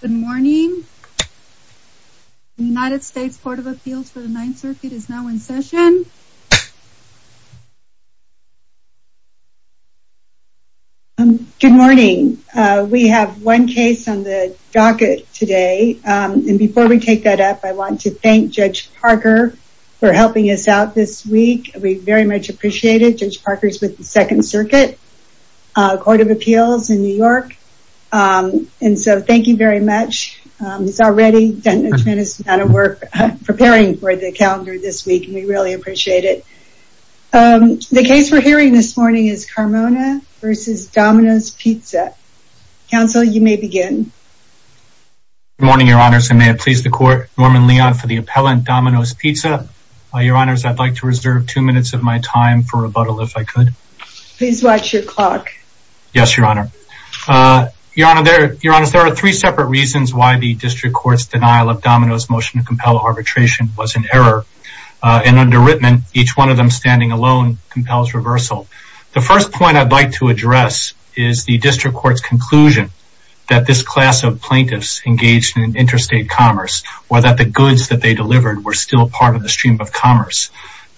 Good morning. United States Court of Appeals for the Ninth Circuit is now in session. Good morning. We have one case on the docket today. And before we take that up, I want to thank Judge Parker for helping us out this week. We very much appreciate it. Judge Parker's with Second Circuit Court of Appeals in New York. And so thank you very much. He's already done a tremendous amount of work preparing for the calendar this week. We really appreciate it. The case we're hearing this morning is Carmona v. Domino's Pizza. Counsel, you may begin. Good morning, Your Honors. I may have pleased the court, Norman Leon for the appellant, Domino's Pizza. Your Honors, I'd like to reserve two minutes of my time for rebuttal if I could. Please watch your clock. Yes, Your Honor. Your Honors, there are three separate reasons why the district court's denial of Domino's motion to compel arbitration was an error. And under Rittman, each one of them standing alone compels reversal. The first point I'd like to address is the district court's conclusion that this class of plaintiffs engaged in interstate commerce or that the goods that they delivered were still part of the stream of commerce.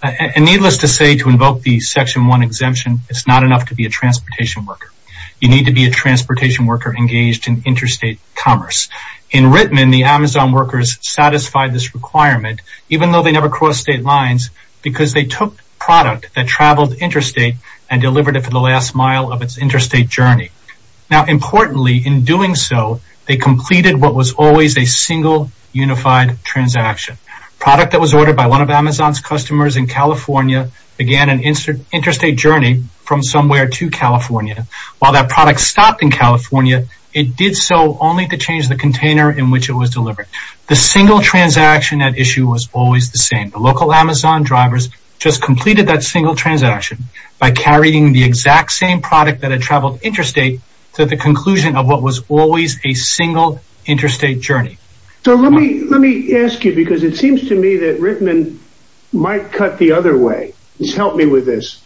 And needless to say, to invoke the Section 1 exemption, it's not enough to be a transportation worker. You need to be a transportation worker engaged in interstate commerce. In Rittman, the Amazon workers satisfied this requirement even though they never crossed state lines because they took product that traveled interstate and delivered it for the last mile of its interstate journey. Now importantly, in doing so, they completed what was always a single unified transaction. Product that was interstate journey from somewhere to California. While that product stopped in California, it did so only to change the container in which it was delivered. The single transaction at issue was always the same. The local Amazon drivers just completed that single transaction by carrying the exact same product that had traveled interstate to the conclusion of what was always a single interstate journey. So let me let me ask you because it seems to me that Rittman might cut the other way. Please help me with this.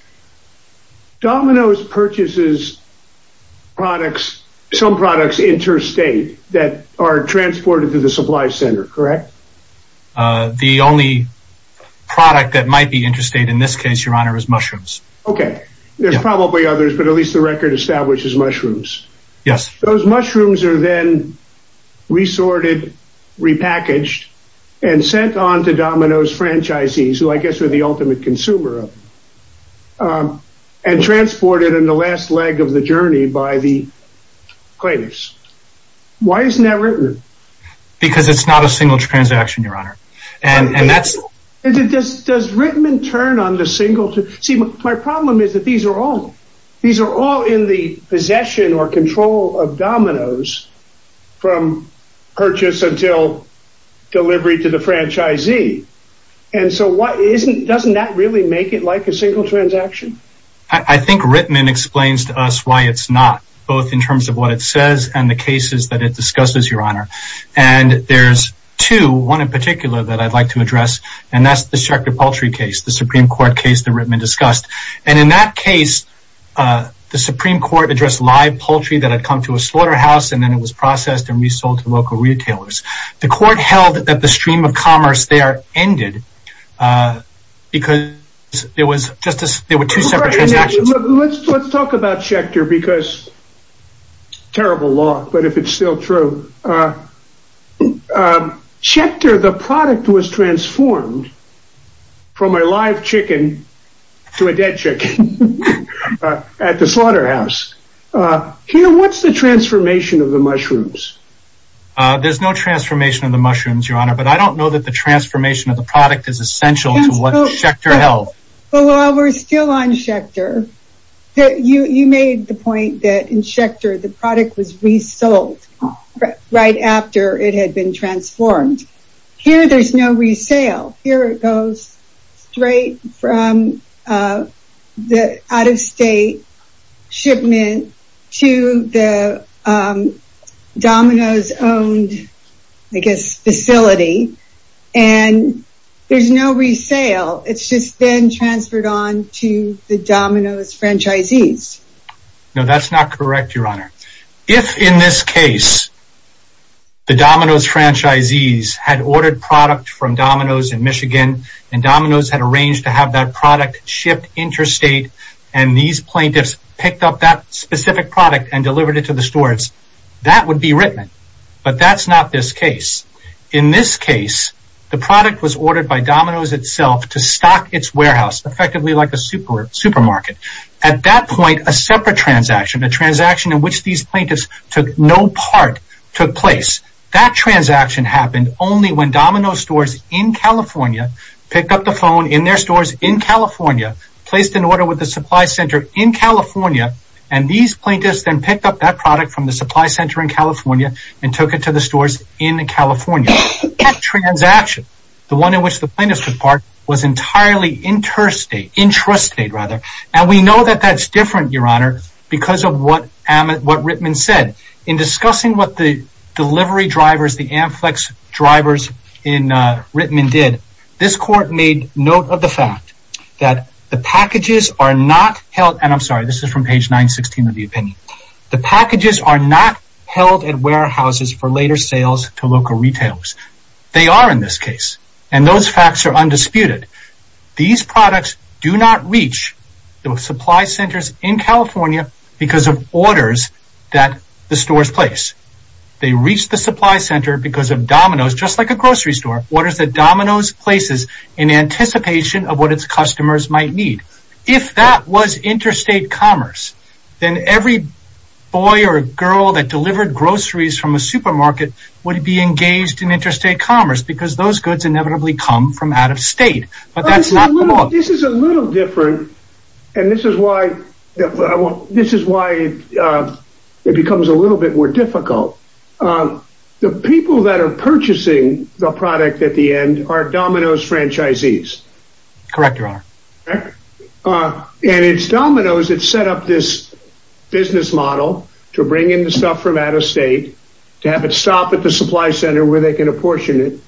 Domino's purchases products, some products interstate that are transported to the supply center, correct? The only product that might be interstate in this case, your honor, is mushrooms. Okay, there's probably others, but at least the record establishes mushrooms. Those mushrooms are then resorted, repackaged, and sent on to Domino's franchisees, who I guess are the ultimate consumer of them, and transported in the last leg of the journey by the claimants. Why isn't that written? Because it's not a single transaction, your honor. Does Rittman turn on the single? See, my problem is that these are all in the possession or control of Domino's from purchase until delivery to the franchisee. And so what isn't doesn't that really make it like a single transaction? I think Rittman explains to us why it's not both in terms of what it says and the cases that it discusses, your honor. And there's two, one in particular that I'd like to address. And that's the Supreme Court case that Rittman discussed. And in that case, the Supreme Court addressed live poultry that had come to a slaughterhouse and then it was processed and resold to local retailers. The court held that the stream of commerce there ended because it was just as there were two separate transactions. Let's talk about Schechter because terrible law, but if it's still true, but Schechter, the product was transformed from a live chicken to a dead chick at the slaughterhouse. Here, what's the transformation of the mushrooms? There's no transformation of the mushrooms, your honor, but I don't know that the transformation of the product is essential to what Schechter held. Well, while we're still on Schechter, you made the point that in Schechter, the product was resold right after it had been transformed. Here, there's no resale. Here it goes straight from the out-of-state shipment to the Domino's owned, I guess, facility. And there's no resale. It's just been transferred on to the Domino's franchisees. No, that's not correct, your honor. If in this case, the Domino's franchisees had ordered product from Domino's in Michigan and Domino's had arranged to have that product shipped interstate and these plaintiffs picked up that specific product and delivered it to the stores, that would be written. But that's not this case. In this case, the supermarket. At that point, a separate transaction, a transaction in which these plaintiffs took no part took place. That transaction happened only when Domino's stores in California picked up the phone in their stores in California, placed an order with the supply center in California, and these plaintiffs then picked up that product from the supply center in California and took it to the stores in California. That transaction, the one in which the plaintiffs took part, was entirely interstate, intrastate rather. And we know that that's different, your honor, because of what Rittman said. In discussing what the delivery drivers, the Amflex drivers in Rittman did, this court made note of the fact that the packages are not held, and I'm sorry, this is from page 916 of the opinion. The packages are not held at warehouses for later sales to local retailers. They are in this case, and those facts are undisputed. These products do not reach the supply centers in California because of orders that the stores place. They reach the supply center because of Domino's, just like a grocery store, orders that Domino's places in anticipation of what its customers might need. If that was interstate commerce, then every boy or girl that delivered groceries from a supermarket would be engaged in interstate commerce because those goods inevitably come from out of state. This is a little different, and this is why it becomes a little bit more difficult. The people that are purchasing the product at the end are Domino's franchisees. Correct, your honor. And it's Domino's that set up this business model to bring in the stuff from out of state, to have it stop at the supply center where they can apportion it,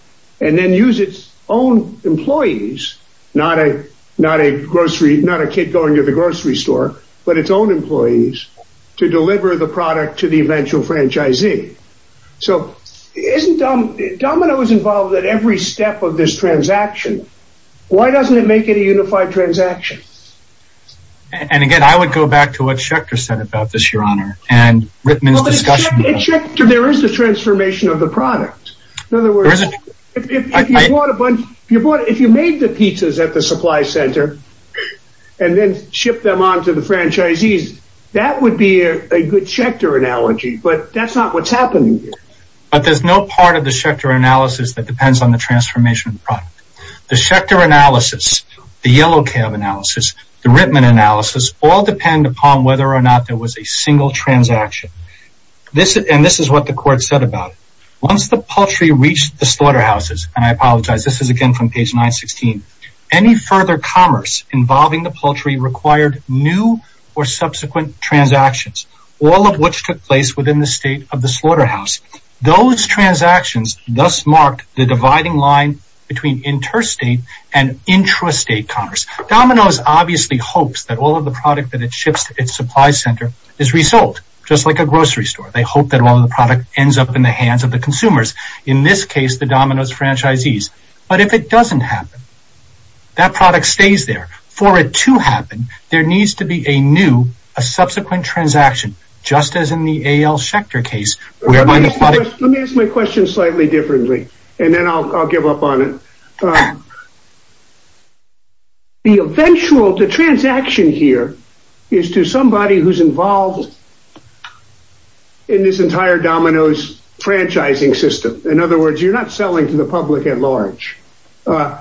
and then use its own employees, not a kid going to the grocery store, but its own employees to deliver the product to the eventual franchisee. So isn't Domino's involved at every step of this transaction? Why doesn't it make it a unified transaction? And again, I would go back to what Schecter said about this, your honor, and Rittman's discussion. There is the transformation of the product. In other words, if you made the pizzas at the supply center, and then ship them on to the franchisees, that would be a good Schecter analogy, but that's not what's happening here. But there's no part of the Schecter analysis that depends on the transformation of the product. The Schecter analysis, the Yellow Cab analysis, the Rittman analysis, all depend upon whether or not there was a single transaction. And this is what the court said about it. Once the poultry reached the slaughterhouses, and I apologize, this is again from page 916, any further commerce involving the poultry required new or subsequent transactions, all of which took place within the state of the slaughterhouse. Those transactions thus marked the dividing line between interstate and intrastate commerce. Domino's obviously hopes that all of the product that it ships to its supply center is resold, just like a grocery store. They hope that all of the product ends up in the hands of the consumers. In this case, the Domino's franchisees. But if it doesn't happen, that product stays there. For it to happen, there needs to be a new, a subsequent transaction, just as in the A.L. Schecter case. Let me ask my question slightly differently, and then I'll give up on it. The eventual, the transaction here is to somebody who's involved in this entire Domino's franchising system. In other words, you're not selling to the public at large. The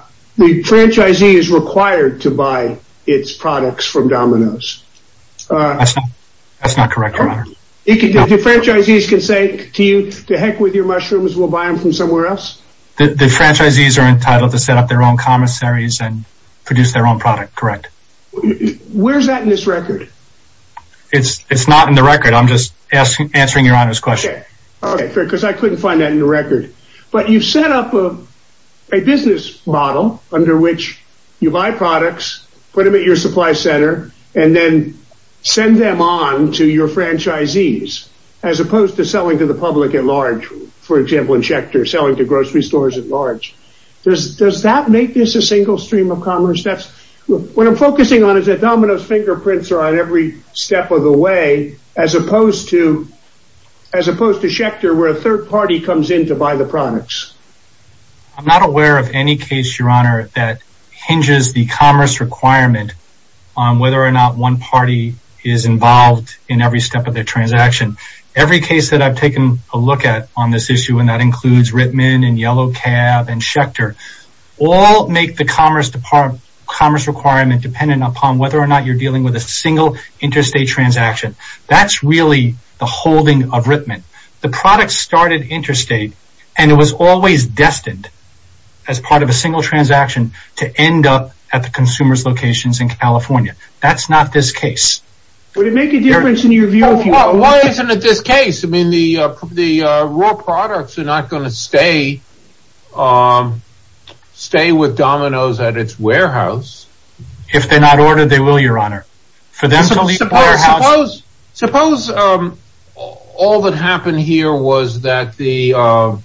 franchisee is required to buy its products from Domino's. That's not correct, your honor. The franchisees can say to you, to heck with your mushrooms, we'll buy them from somewhere else? The franchisees are entitled to set up their own commissaries and produce their own product, correct? Where's that in this record? It's not in the record. I'm just answering your honor's question. Okay, fair, because I couldn't find that in the record. But you set up a business model under which you buy products, put them at your supply center, and then send them on to your franchisees, as opposed to selling to the public at large. For example, in Schecter, selling to grocery stores at large. Does that make this a single stream of commerce? What I'm focusing on is that Domino's fingerprints are on every step of the way, as opposed to Schecter, where a third party comes in to buy the products. I'm not aware of any case, your honor, that hinges the commerce requirement on whether or not one party is involved in every step of the transaction. Every case that I've taken a look at on this issue, and that includes Rittman and Yellow Cab and Schecter, all make the commerce requirement dependent upon whether or not you're dealing with a single interstate transaction. That's really the holding of Rittman. The product started interstate, and it was always destined as part of a single transaction to end up at the consumer's locations in California. That's not this case. Would it make a difference in your view? Why isn't it this case? I mean, the raw products are not going to stay with Domino's at its warehouse. If they're not ordered, they will, your honor. Suppose all that happened here was that the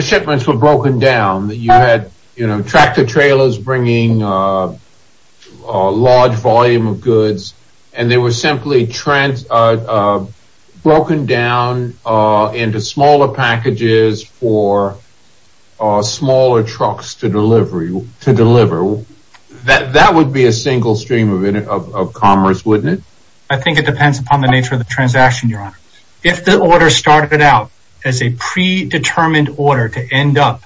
shipments were broken down. You had tractor-trailers bringing a large volume of goods, and they were simply broken down into smaller packages for smaller trucks to deliver. That would be a single stream of commerce, wouldn't it? I think it depends upon the nature of the transaction, your honor. If the order started out as a predetermined order to end up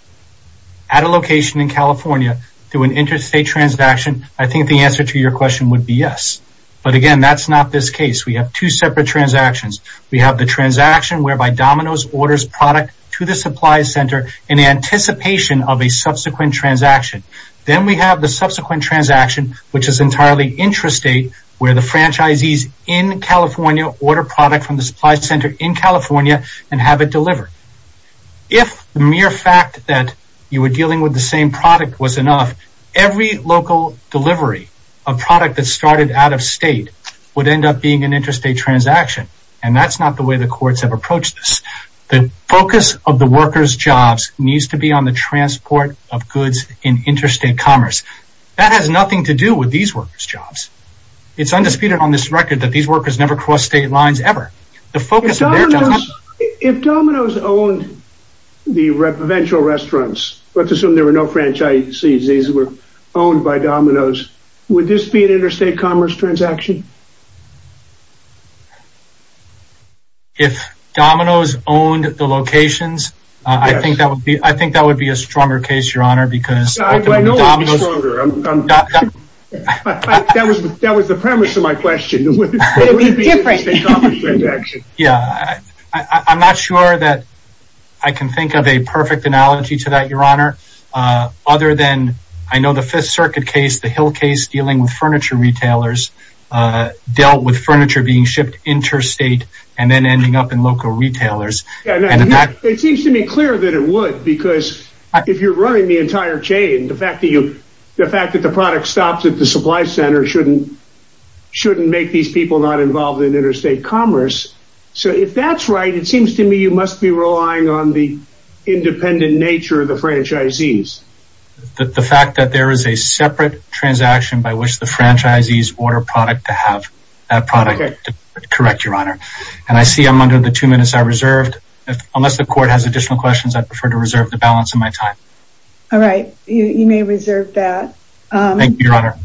at a location in California through an interstate transaction, I think the answer to your question would be yes. But again, that's not this case. We have two separate transactions. We have the transaction whereby Domino's orders product to the supply center in anticipation of a subsequent transaction. Then we have the subsequent transaction, which is entirely interstate, where the franchisees in California order product from the supply center in California and have it delivered. If the mere fact that you were dealing with the same product was enough, every local delivery of product that started out of state would end up being an interstate transaction. That's not the way the courts have approached this. The focus of the workers' jobs needs to be on the transport of goods in interstate commerce. That has nothing to do with these workers' jobs. It's undisputed on this record that these workers never crossed state lines ever. If Domino's owned the provincial restaurants, let's assume there were no franchisees. These were owned by Domino's. Would this be an interstate commerce transaction? If Domino's owned the locations, I think that would be a stronger case, Your Honor. I know it would be stronger. That was the premise of my question. I'm not sure that I can think of a perfect analogy to that, Your Honor, other than I know the Fifth Circuit case, the Hill case dealing with furniture retailers, dealt with furniture being shipped interstate and then ending up in local retailers. It seems to me clear that it would because if you're running the entire chain, the fact that the product stops at the supply center shouldn't make these people not involved in interstate commerce. If that's right, it seems to me you must be relying on the independent nature of the franchisees. The fact that there is a separate transaction by which the franchisees order product to have that product, correct, Your Honor. I see I'm under the two minutes I reserved. Unless the court has additional questions, I prefer to reserve the balance of my time. All right, you may reserve that. Thank you, Your Honor.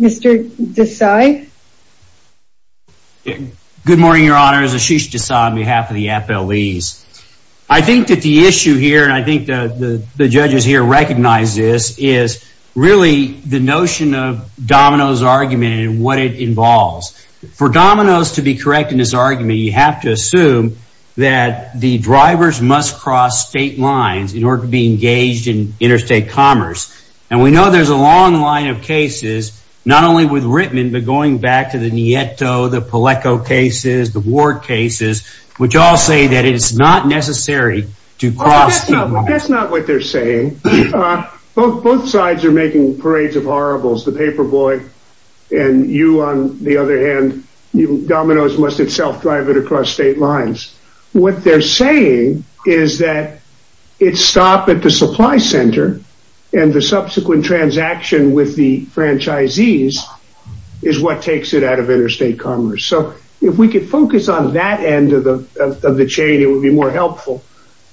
Mr. Desai. Good morning, Your Honor. It's Ashish Desai on behalf of the FLEs. I think that the issue here, and I think that the judges here recognize this, is really the notion of Domino's argument and what it involves. For Domino's to be correct in this argument, you have to assume that the drivers must cross state lines in order to be engaged in interstate commerce. We know there's a long line of cases, not only with Rittman, but going back to the Nieto, the Peleco cases, the Ward cases, which all say that it's not necessary to cross. That's not what they're saying. Both sides are making parades of horribles, the paperboy and you on the other hand. Domino's must itself drive it across state lines. What they're saying is that it stop at the supply center and the subsequent transaction with the franchisees is what takes it out of interstate commerce. So if we could focus on that end of the chain, it would be more helpful.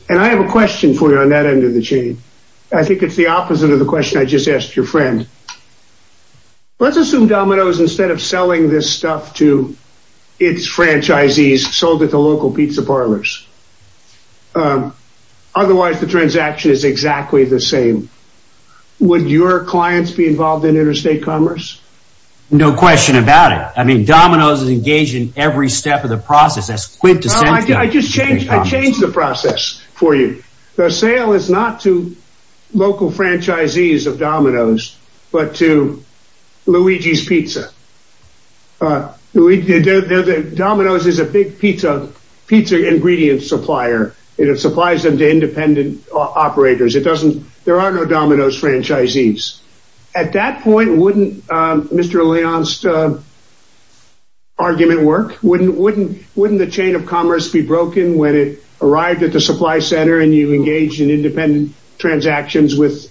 And I have a question for you on that end of the chain. I think it's the opposite of the question I just sold it to local pizza parlors. Otherwise, the transaction is exactly the same. Would your clients be involved in interstate commerce? No question about it. I mean, Domino's is engaged in every step of the process. I just changed the process for you. The sale is not to local franchisees of Domino's, but to Luigi's Pizza. Domino's is a big pizza ingredient supplier. It supplies them to independent operators. There are no Domino's franchisees. At that point, wouldn't Mr. Leon's argument work? Wouldn't the chain of commerce be broken when it arrived at the supply center and you engaged in independent transactions with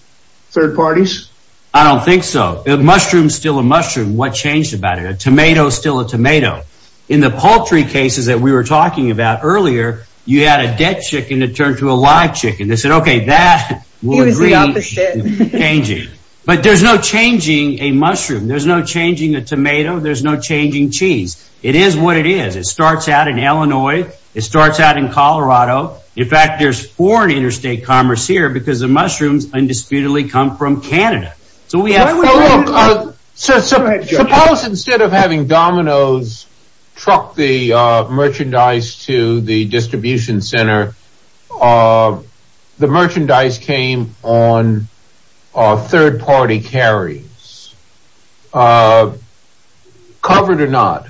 third parties? I don't think so. The mushroom is still a mushroom. What changed about it? A tomato is still a tomato. In the poultry cases that we were talking about earlier, you had a dead chicken that turned to a live chicken. They said, okay, that will agree with changing. But there's no changing a mushroom. There's no changing a tomato. There's no changing cheese. It is what it is. It starts out in Illinois. It starts out in Colorado. In fact, there's foreign interstate commerce here because the policy instead of having Domino's truck the merchandise to the distribution center, the merchandise came on third party carry. Covered or not.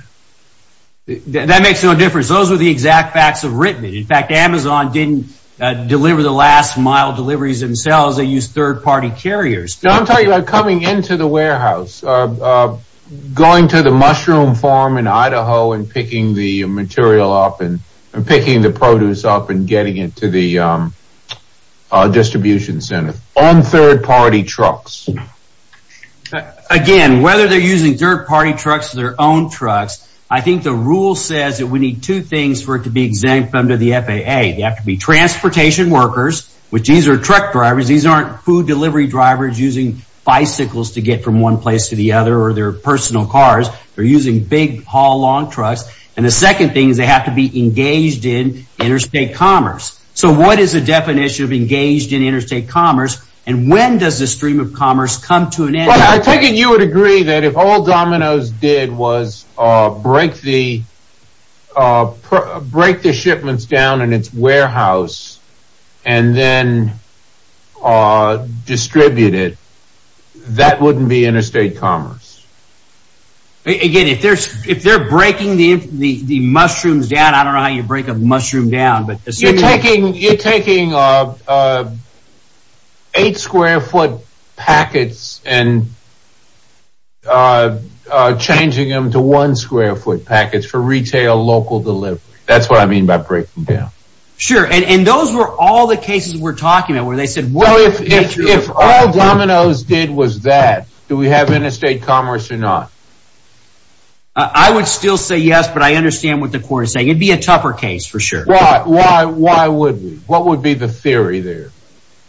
That makes no difference. Those are the exact facts of written. In fact, Amazon didn't deliver the last mile deliveries themselves. They use third party carriers. Coming into the warehouse, going to the mushroom farm in Idaho and picking the material up and picking the produce up and getting it to the distribution center on third party trucks. Again, whether they're using third party trucks or their own trucks, I think the rule says that we need two things for it to be exempt under the FAA. They have to be transportation workers, which these are truck drivers. These aren't food delivery drivers using bicycles to get from one place to the other or their personal cars. They're using big haul long trucks. The second thing is they have to be engaged in interstate commerce. What is the definition of engaged in interstate commerce? When does the stream of commerce come to an end? I take it you would agree that if all and then distributed, that wouldn't be interstate commerce. Again, if they're breaking the mushrooms down, I don't know how you break a mushroom down, but you're taking eight square foot packets and changing them to one square foot packets for retail local delivery. That's what I mean by breaking down. Sure. And those were all the cases we're talking about where they said, well, if all dominoes did was that do we have interstate commerce or not? I would still say yes, but I understand what the court is saying. It'd be a tougher case for sure. Why? Why? Why would we? What would be the theory there?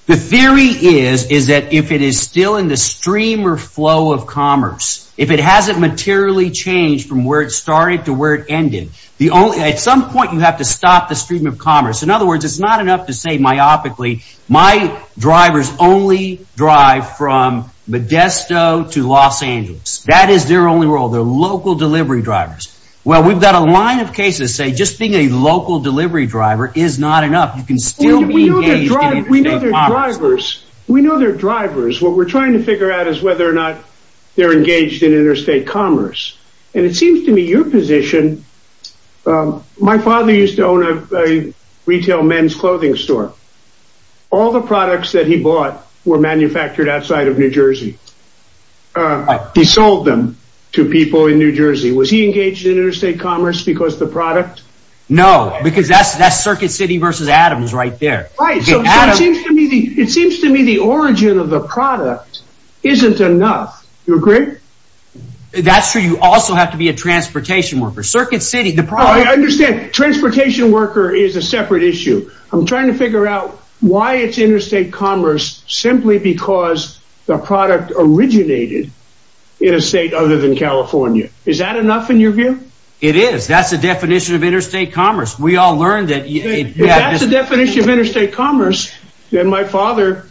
The theory is, is that if it is still in the stream or flow of commerce, if it hasn't materially changed from started to where it ended, the only, at some point you have to stop the stream of commerce. In other words, it's not enough to say myopically, my drivers only drive from Modesto to Los Angeles. That is their only role, their local delivery drivers. Well, we've got a line of cases say, just being a local delivery driver is not enough. You can still be engaged in interstate commerce. We know their drivers. What we're trying to figure out is whether or not they're engaged in interstate commerce. And it seems to me your position. My father used to own a retail men's clothing store. All the products that he bought were manufactured outside of New Jersey. He sold them to people in New Jersey. Was he engaged in interstate commerce because the product? No, because that's that circuit city versus Adams right there. So it seems to me, it seems to me the origin of the product isn't enough. You agree? That's true. You also have to be a transportation worker, circuit city. I understand transportation worker is a separate issue. I'm trying to figure out why it's interstate commerce simply because the product originated in a state other than California. Is that enough in your view? It is. That's the definition of interstate commerce. My father,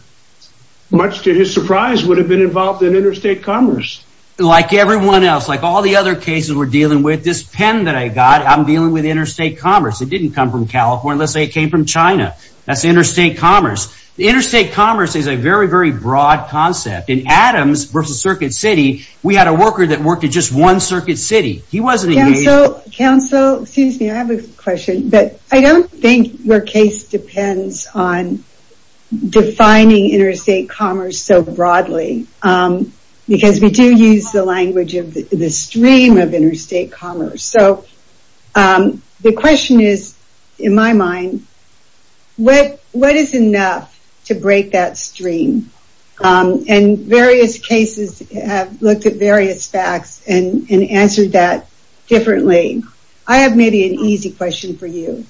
much to his surprise, would have been involved in interstate commerce. Like everyone else, like all the other cases we're dealing with, this pen that I got, I'm dealing with interstate commerce. It didn't come from California. It came from China. That's interstate commerce. Interstate commerce is a very, very broad concept. In Adams versus circuit city, we had a worker that worked at just one circuit city. He wasn't engaged. Counsel, excuse me, I have a question. I don't think your case depends on defining interstate commerce so broadly because we do use the language of the stream of interstate commerce. The question is, in my mind, what is enough to break that stream? And various cases have looked at various facts and answered that differently. I have maybe an easy question for you.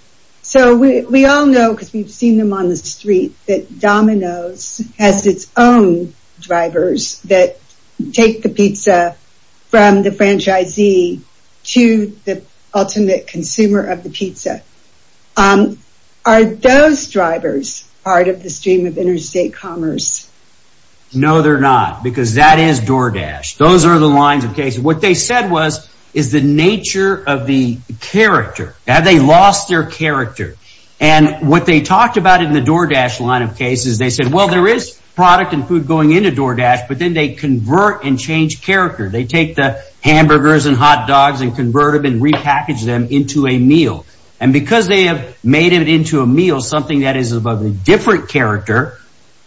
We all know because we've seen them on the street that Domino's has its own drivers that take the pizza from the franchisee to the ultimate consumer of the pizza. Um, are those drivers part of the stream of interstate commerce? No, they're not. Because that is DoorDash. Those are the lines of cases. What they said was, is the nature of the character. Have they lost their character? And what they talked about in the DoorDash line of cases, they said, well, there is product and food going into DoorDash, but then they convert and change character. They take the hamburgers and hot dogs and convert them and repackage them into a meal. And because they have made it into a meal, something that is of a different character,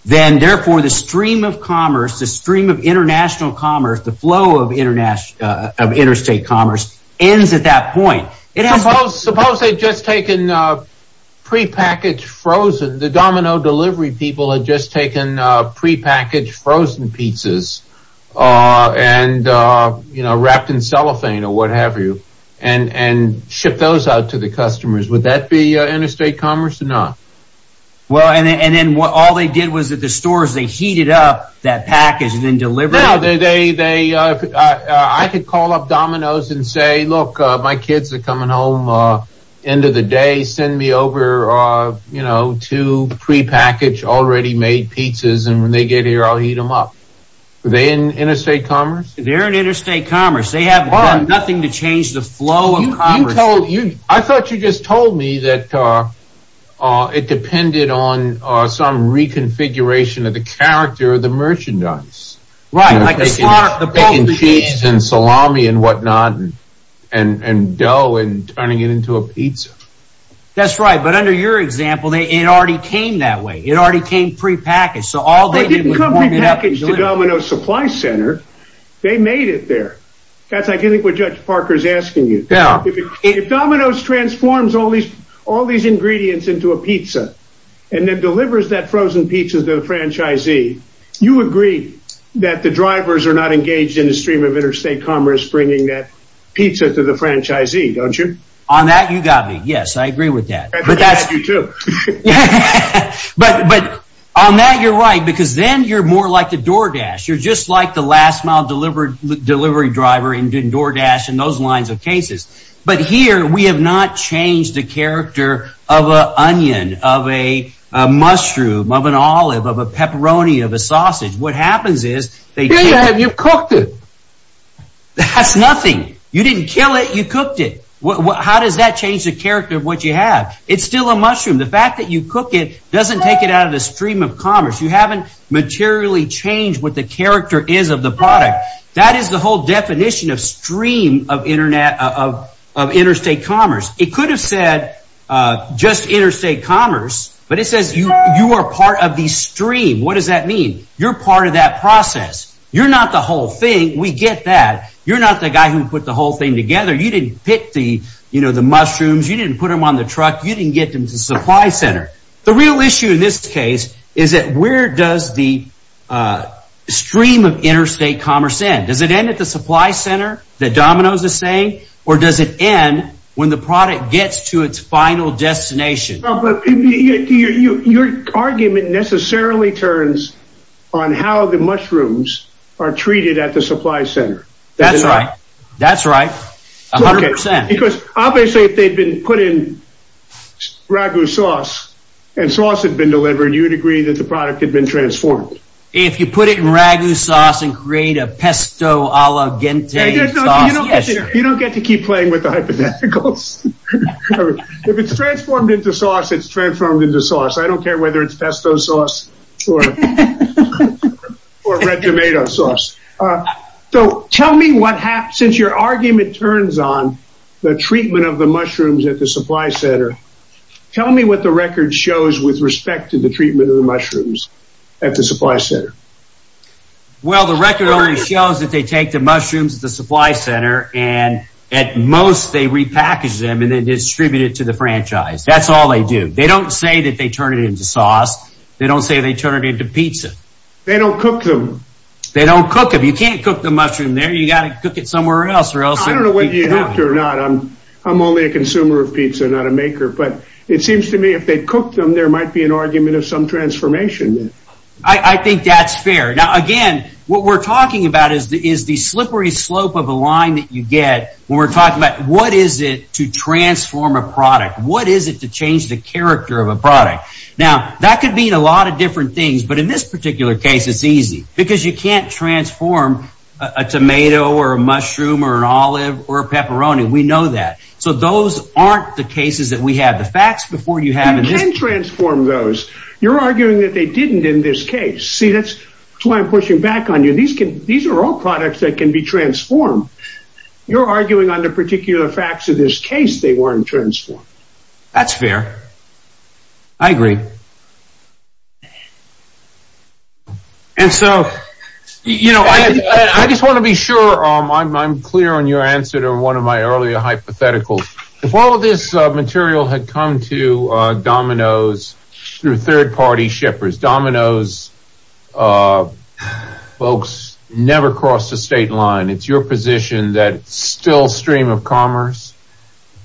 then therefore the stream of commerce, the stream of international commerce, the flow of interstate commerce ends at that point. Suppose they had just taken pre-packaged frozen, the Domino delivery people had just taken pre-packaged frozen pizzas and, you know, wrapped in cellophane or what have you, and ship those out to the customers. Would that be interstate commerce or not? Well, and then all they did was at the stores, they heated up that package and then delivered it. No, they, I could call up Domino's and say, look, my kids are coming home end of the day, send me over, you know, two pre-packaged, already made pizzas, and when they get here, I'll heat them up. Are they in interstate commerce? They're in interstate commerce. They haven't done nothing to change the flow of commerce. I thought you just told me that it depended on some reconfiguration of the character of the merchandise. Right, like the slaughter, the cheese and salami and whatnot and dough and turning it into a pizza. That's right. But under your example, it already came that way. It already came pre-packaged, so all they did was warm it up. They didn't come pre-packaged to Domino's Supply Center. They made it there. That's, I think, what Judge Parker's asking you. Yeah. If Domino's transforms all these ingredients into a pizza and then delivers that frozen pizza to the franchisee, you agree that the drivers are not engaged in the stream of interstate commerce bringing that pizza to the franchisee, don't you? On that, you got me. Yes, I agree with that. But on that, you're right, because then you're more like the DoorDash. You're just like the last-mile delivery driver in DoorDash and those lines of cases. But here, we have not changed the character of an onion, of a mushroom, of an olive, of a pepperoni, of a sausage. What happens is they take- You cooked it. That's nothing. You didn't kill it. You cooked it. How does that change the character of what you have? It's still a mushroom. The fact that you cook it doesn't take it out of the stream of commerce. You haven't materially changed what the character is of the product. That is the whole definition of stream of interstate commerce. It could have said just interstate commerce, but it says you are part of the stream. What does that mean? You're part of that process. You're not the whole thing. We get that. You're not the guy who put the whole thing together. You didn't pick the mushrooms. You didn't put them on the truck. You didn't get them to the supply center. The real issue in this case is that where does the stream of interstate commerce end? Does it end at the supply center, that Domino's is saying, or does it end when the product gets to its final destination? But your argument necessarily turns on how the mushrooms are treated at the supply center. That's right. That's right. A hundred percent. Because obviously, if they'd been put in ragu sauce, and sauce had been delivered, you'd agree that the product had been transformed. If you put it in ragu sauce and create a pesto a la gente sauce, yes. You don't get to keep playing with the hypotheticals. If it's transformed into sauce, it's transformed into sauce. I don't care whether it's pesto sauce or red tomato sauce. Since your argument turns on the treatment of the mushrooms at the supply center, tell me what the record shows with respect to the treatment of the mushrooms at the supply center. Well, the record only shows that they take the mushrooms at the supply center, and at most they repackage them and then distribute it to the franchise. That's all they do. They don't say that they turn it into sauce. They don't say they turn it into pizza. They don't cook them. They don't cook them. You can't cook the mushroom there. You got to cook it somewhere else. I don't know whether you have to or not. I'm only a consumer of pizza, not a maker. But it seems to me if they cooked them, there might be an argument of some transformation. I think that's fair. Now, again, what we're talking about is the slippery slope of a line that you get when we're talking about what is it to transform a product? What is it to change the character of a product? Now, that could mean a lot of different things. But in this particular case, it's easy because you can't transform a tomato or a mushroom or an olive or a pepperoni. We know that. So those aren't the cases that we have. The facts before you have it. You can transform those. You're arguing that they didn't in this case. See, that's why I'm pushing back on you. These are all products that can be transformed. You're arguing on the particular facts of this case. They weren't transformed. That's fair. I agree. And so, you know, I just want to be sure I'm clear on your answer to one of my earlier hypotheticals. If all of this material had come to Domino's through third-party shippers, Domino's folks never crossed the state line. It's your position that it's still a stream of commerce?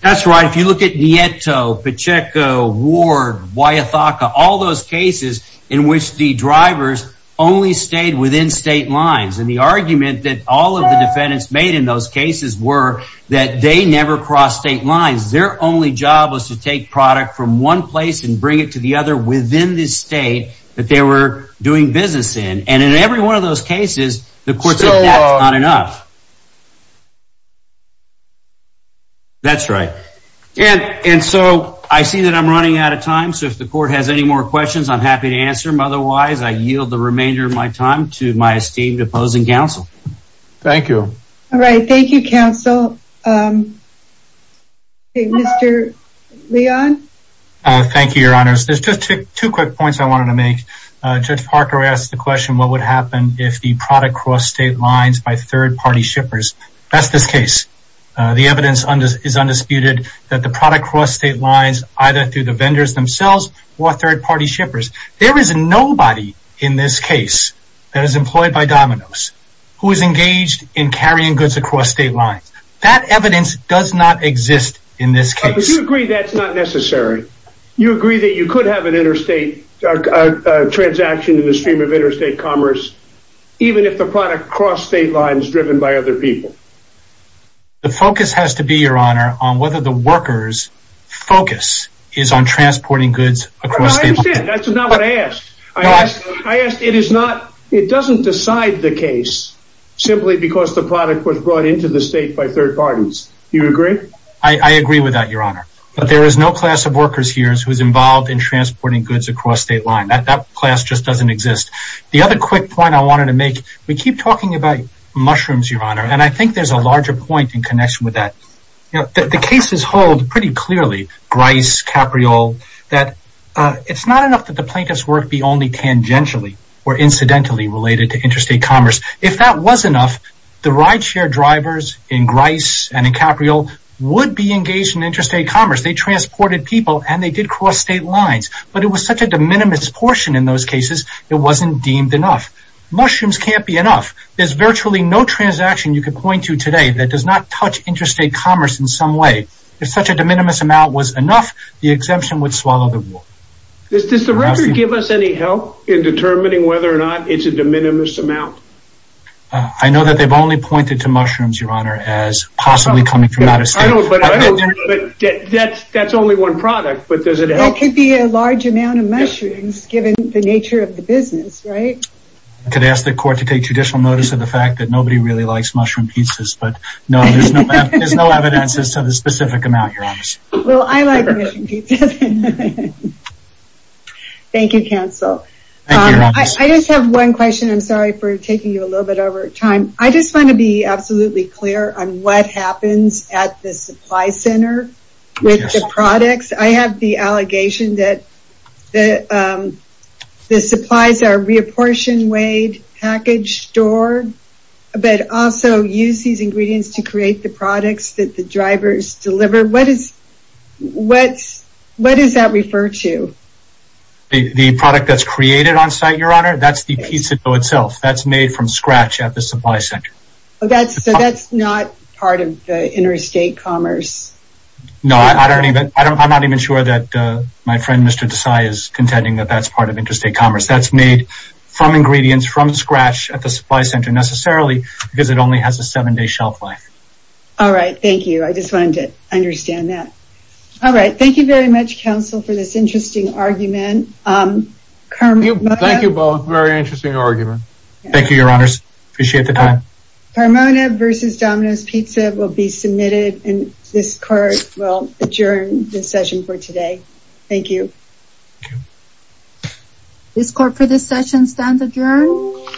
That's right. If you look at Nieto, Pacheco, Ward, Huayataca, all those cases in which the drivers only stayed within state lines and the argument that all of the defendants made in those cases were that they never crossed state lines. Their only job was to take product from one place and bring it to the other within this state that they were doing business in. And in every one of those cases, the court said that's not enough. That's right. And so I see that I'm running out of time. So if the court has any more questions, I'm happy to answer them. Otherwise, I yield the remainder of my time to my esteemed opposing counsel. Thank you. All right. Thank you, counsel. Mr. Leon? Thank you, your honors. There's just two quick points I wanted to make. Judge Parker asked the question, what would happen if the product crossed state lines by third-party shippers? That's this case. The evidence is undisputed that the product crossed state lines either through the vendors themselves or third-party shippers. There is nobody in this case that is employed by Domino's who is engaged in carrying goods across state lines. That evidence does not exist in this case. But you agree that's not necessary? You agree that you could have an interstate transaction in the stream of interstate commerce, even if the product crossed state lines driven by other people? The focus has to be, your honor, on whether the workers focus is on transporting goods across state lines. I understand. That's not what I asked. It doesn't decide the case simply because the product was brought into the state by third parties. You agree? I agree with that, your honor. But there is no class of workers here who is involved in transporting goods across state lines. That class just doesn't exist. The other quick point I wanted to make, we keep talking about mushrooms, your honor, and I think there's a Grice, Capriol, that it's not enough that the plaintiff's work be only tangentially or incidentally related to interstate commerce. If that was enough, the rideshare drivers in Grice and Capriol would be engaged in interstate commerce. They transported people and they did cross state lines. But it was such a de minimis portion in those cases, it wasn't deemed enough. Mushrooms can't be enough. There's virtually no transaction you could point to today that does not interstate commerce in some way. If such a de minimis amount was enough, the exemption would swallow the rule. Does the record give us any help in determining whether or not it's a de minimis amount? I know that they've only pointed to mushrooms, your honor, as possibly coming from out of state. That's only one product, but does it help? It could be a large amount of mushrooms given the nature of the business, right? I could ask the court to take judicial notice of the fact that nobody really likes mushroom pizzas, but no, there's no evidence as to the specific amount. Well, I like mushroom pizzas. Thank you, counsel. I just have one question. I'm sorry for taking you a little bit over time. I just want to be absolutely clear on what happens at the supply center with the products. I have the allegation that the supplies are reapportioned, weighed, packaged, stored, but also use these ingredients to create the products that the drivers deliver. What does that refer to? The product that's created on site, your honor, that's the pizza dough itself. That's made from scratch at the supply center. So that's not part of the interstate commerce? No, I'm not even sure that my friend Mr. Desai is contending that that's part of the interstate commerce. It's made from scratch at the supply center necessarily because it only has a seven-day shelf life. All right. Thank you. I just wanted to understand that. All right. Thank you very much, counsel, for this interesting argument. Thank you both. Very interesting argument. Thank you, your honors. Appreciate the time. Carmona versus Domino's Pizza will be submitted and this court will adjourn this session for today. Thank you. Thank you. This court for this session stands adjourned.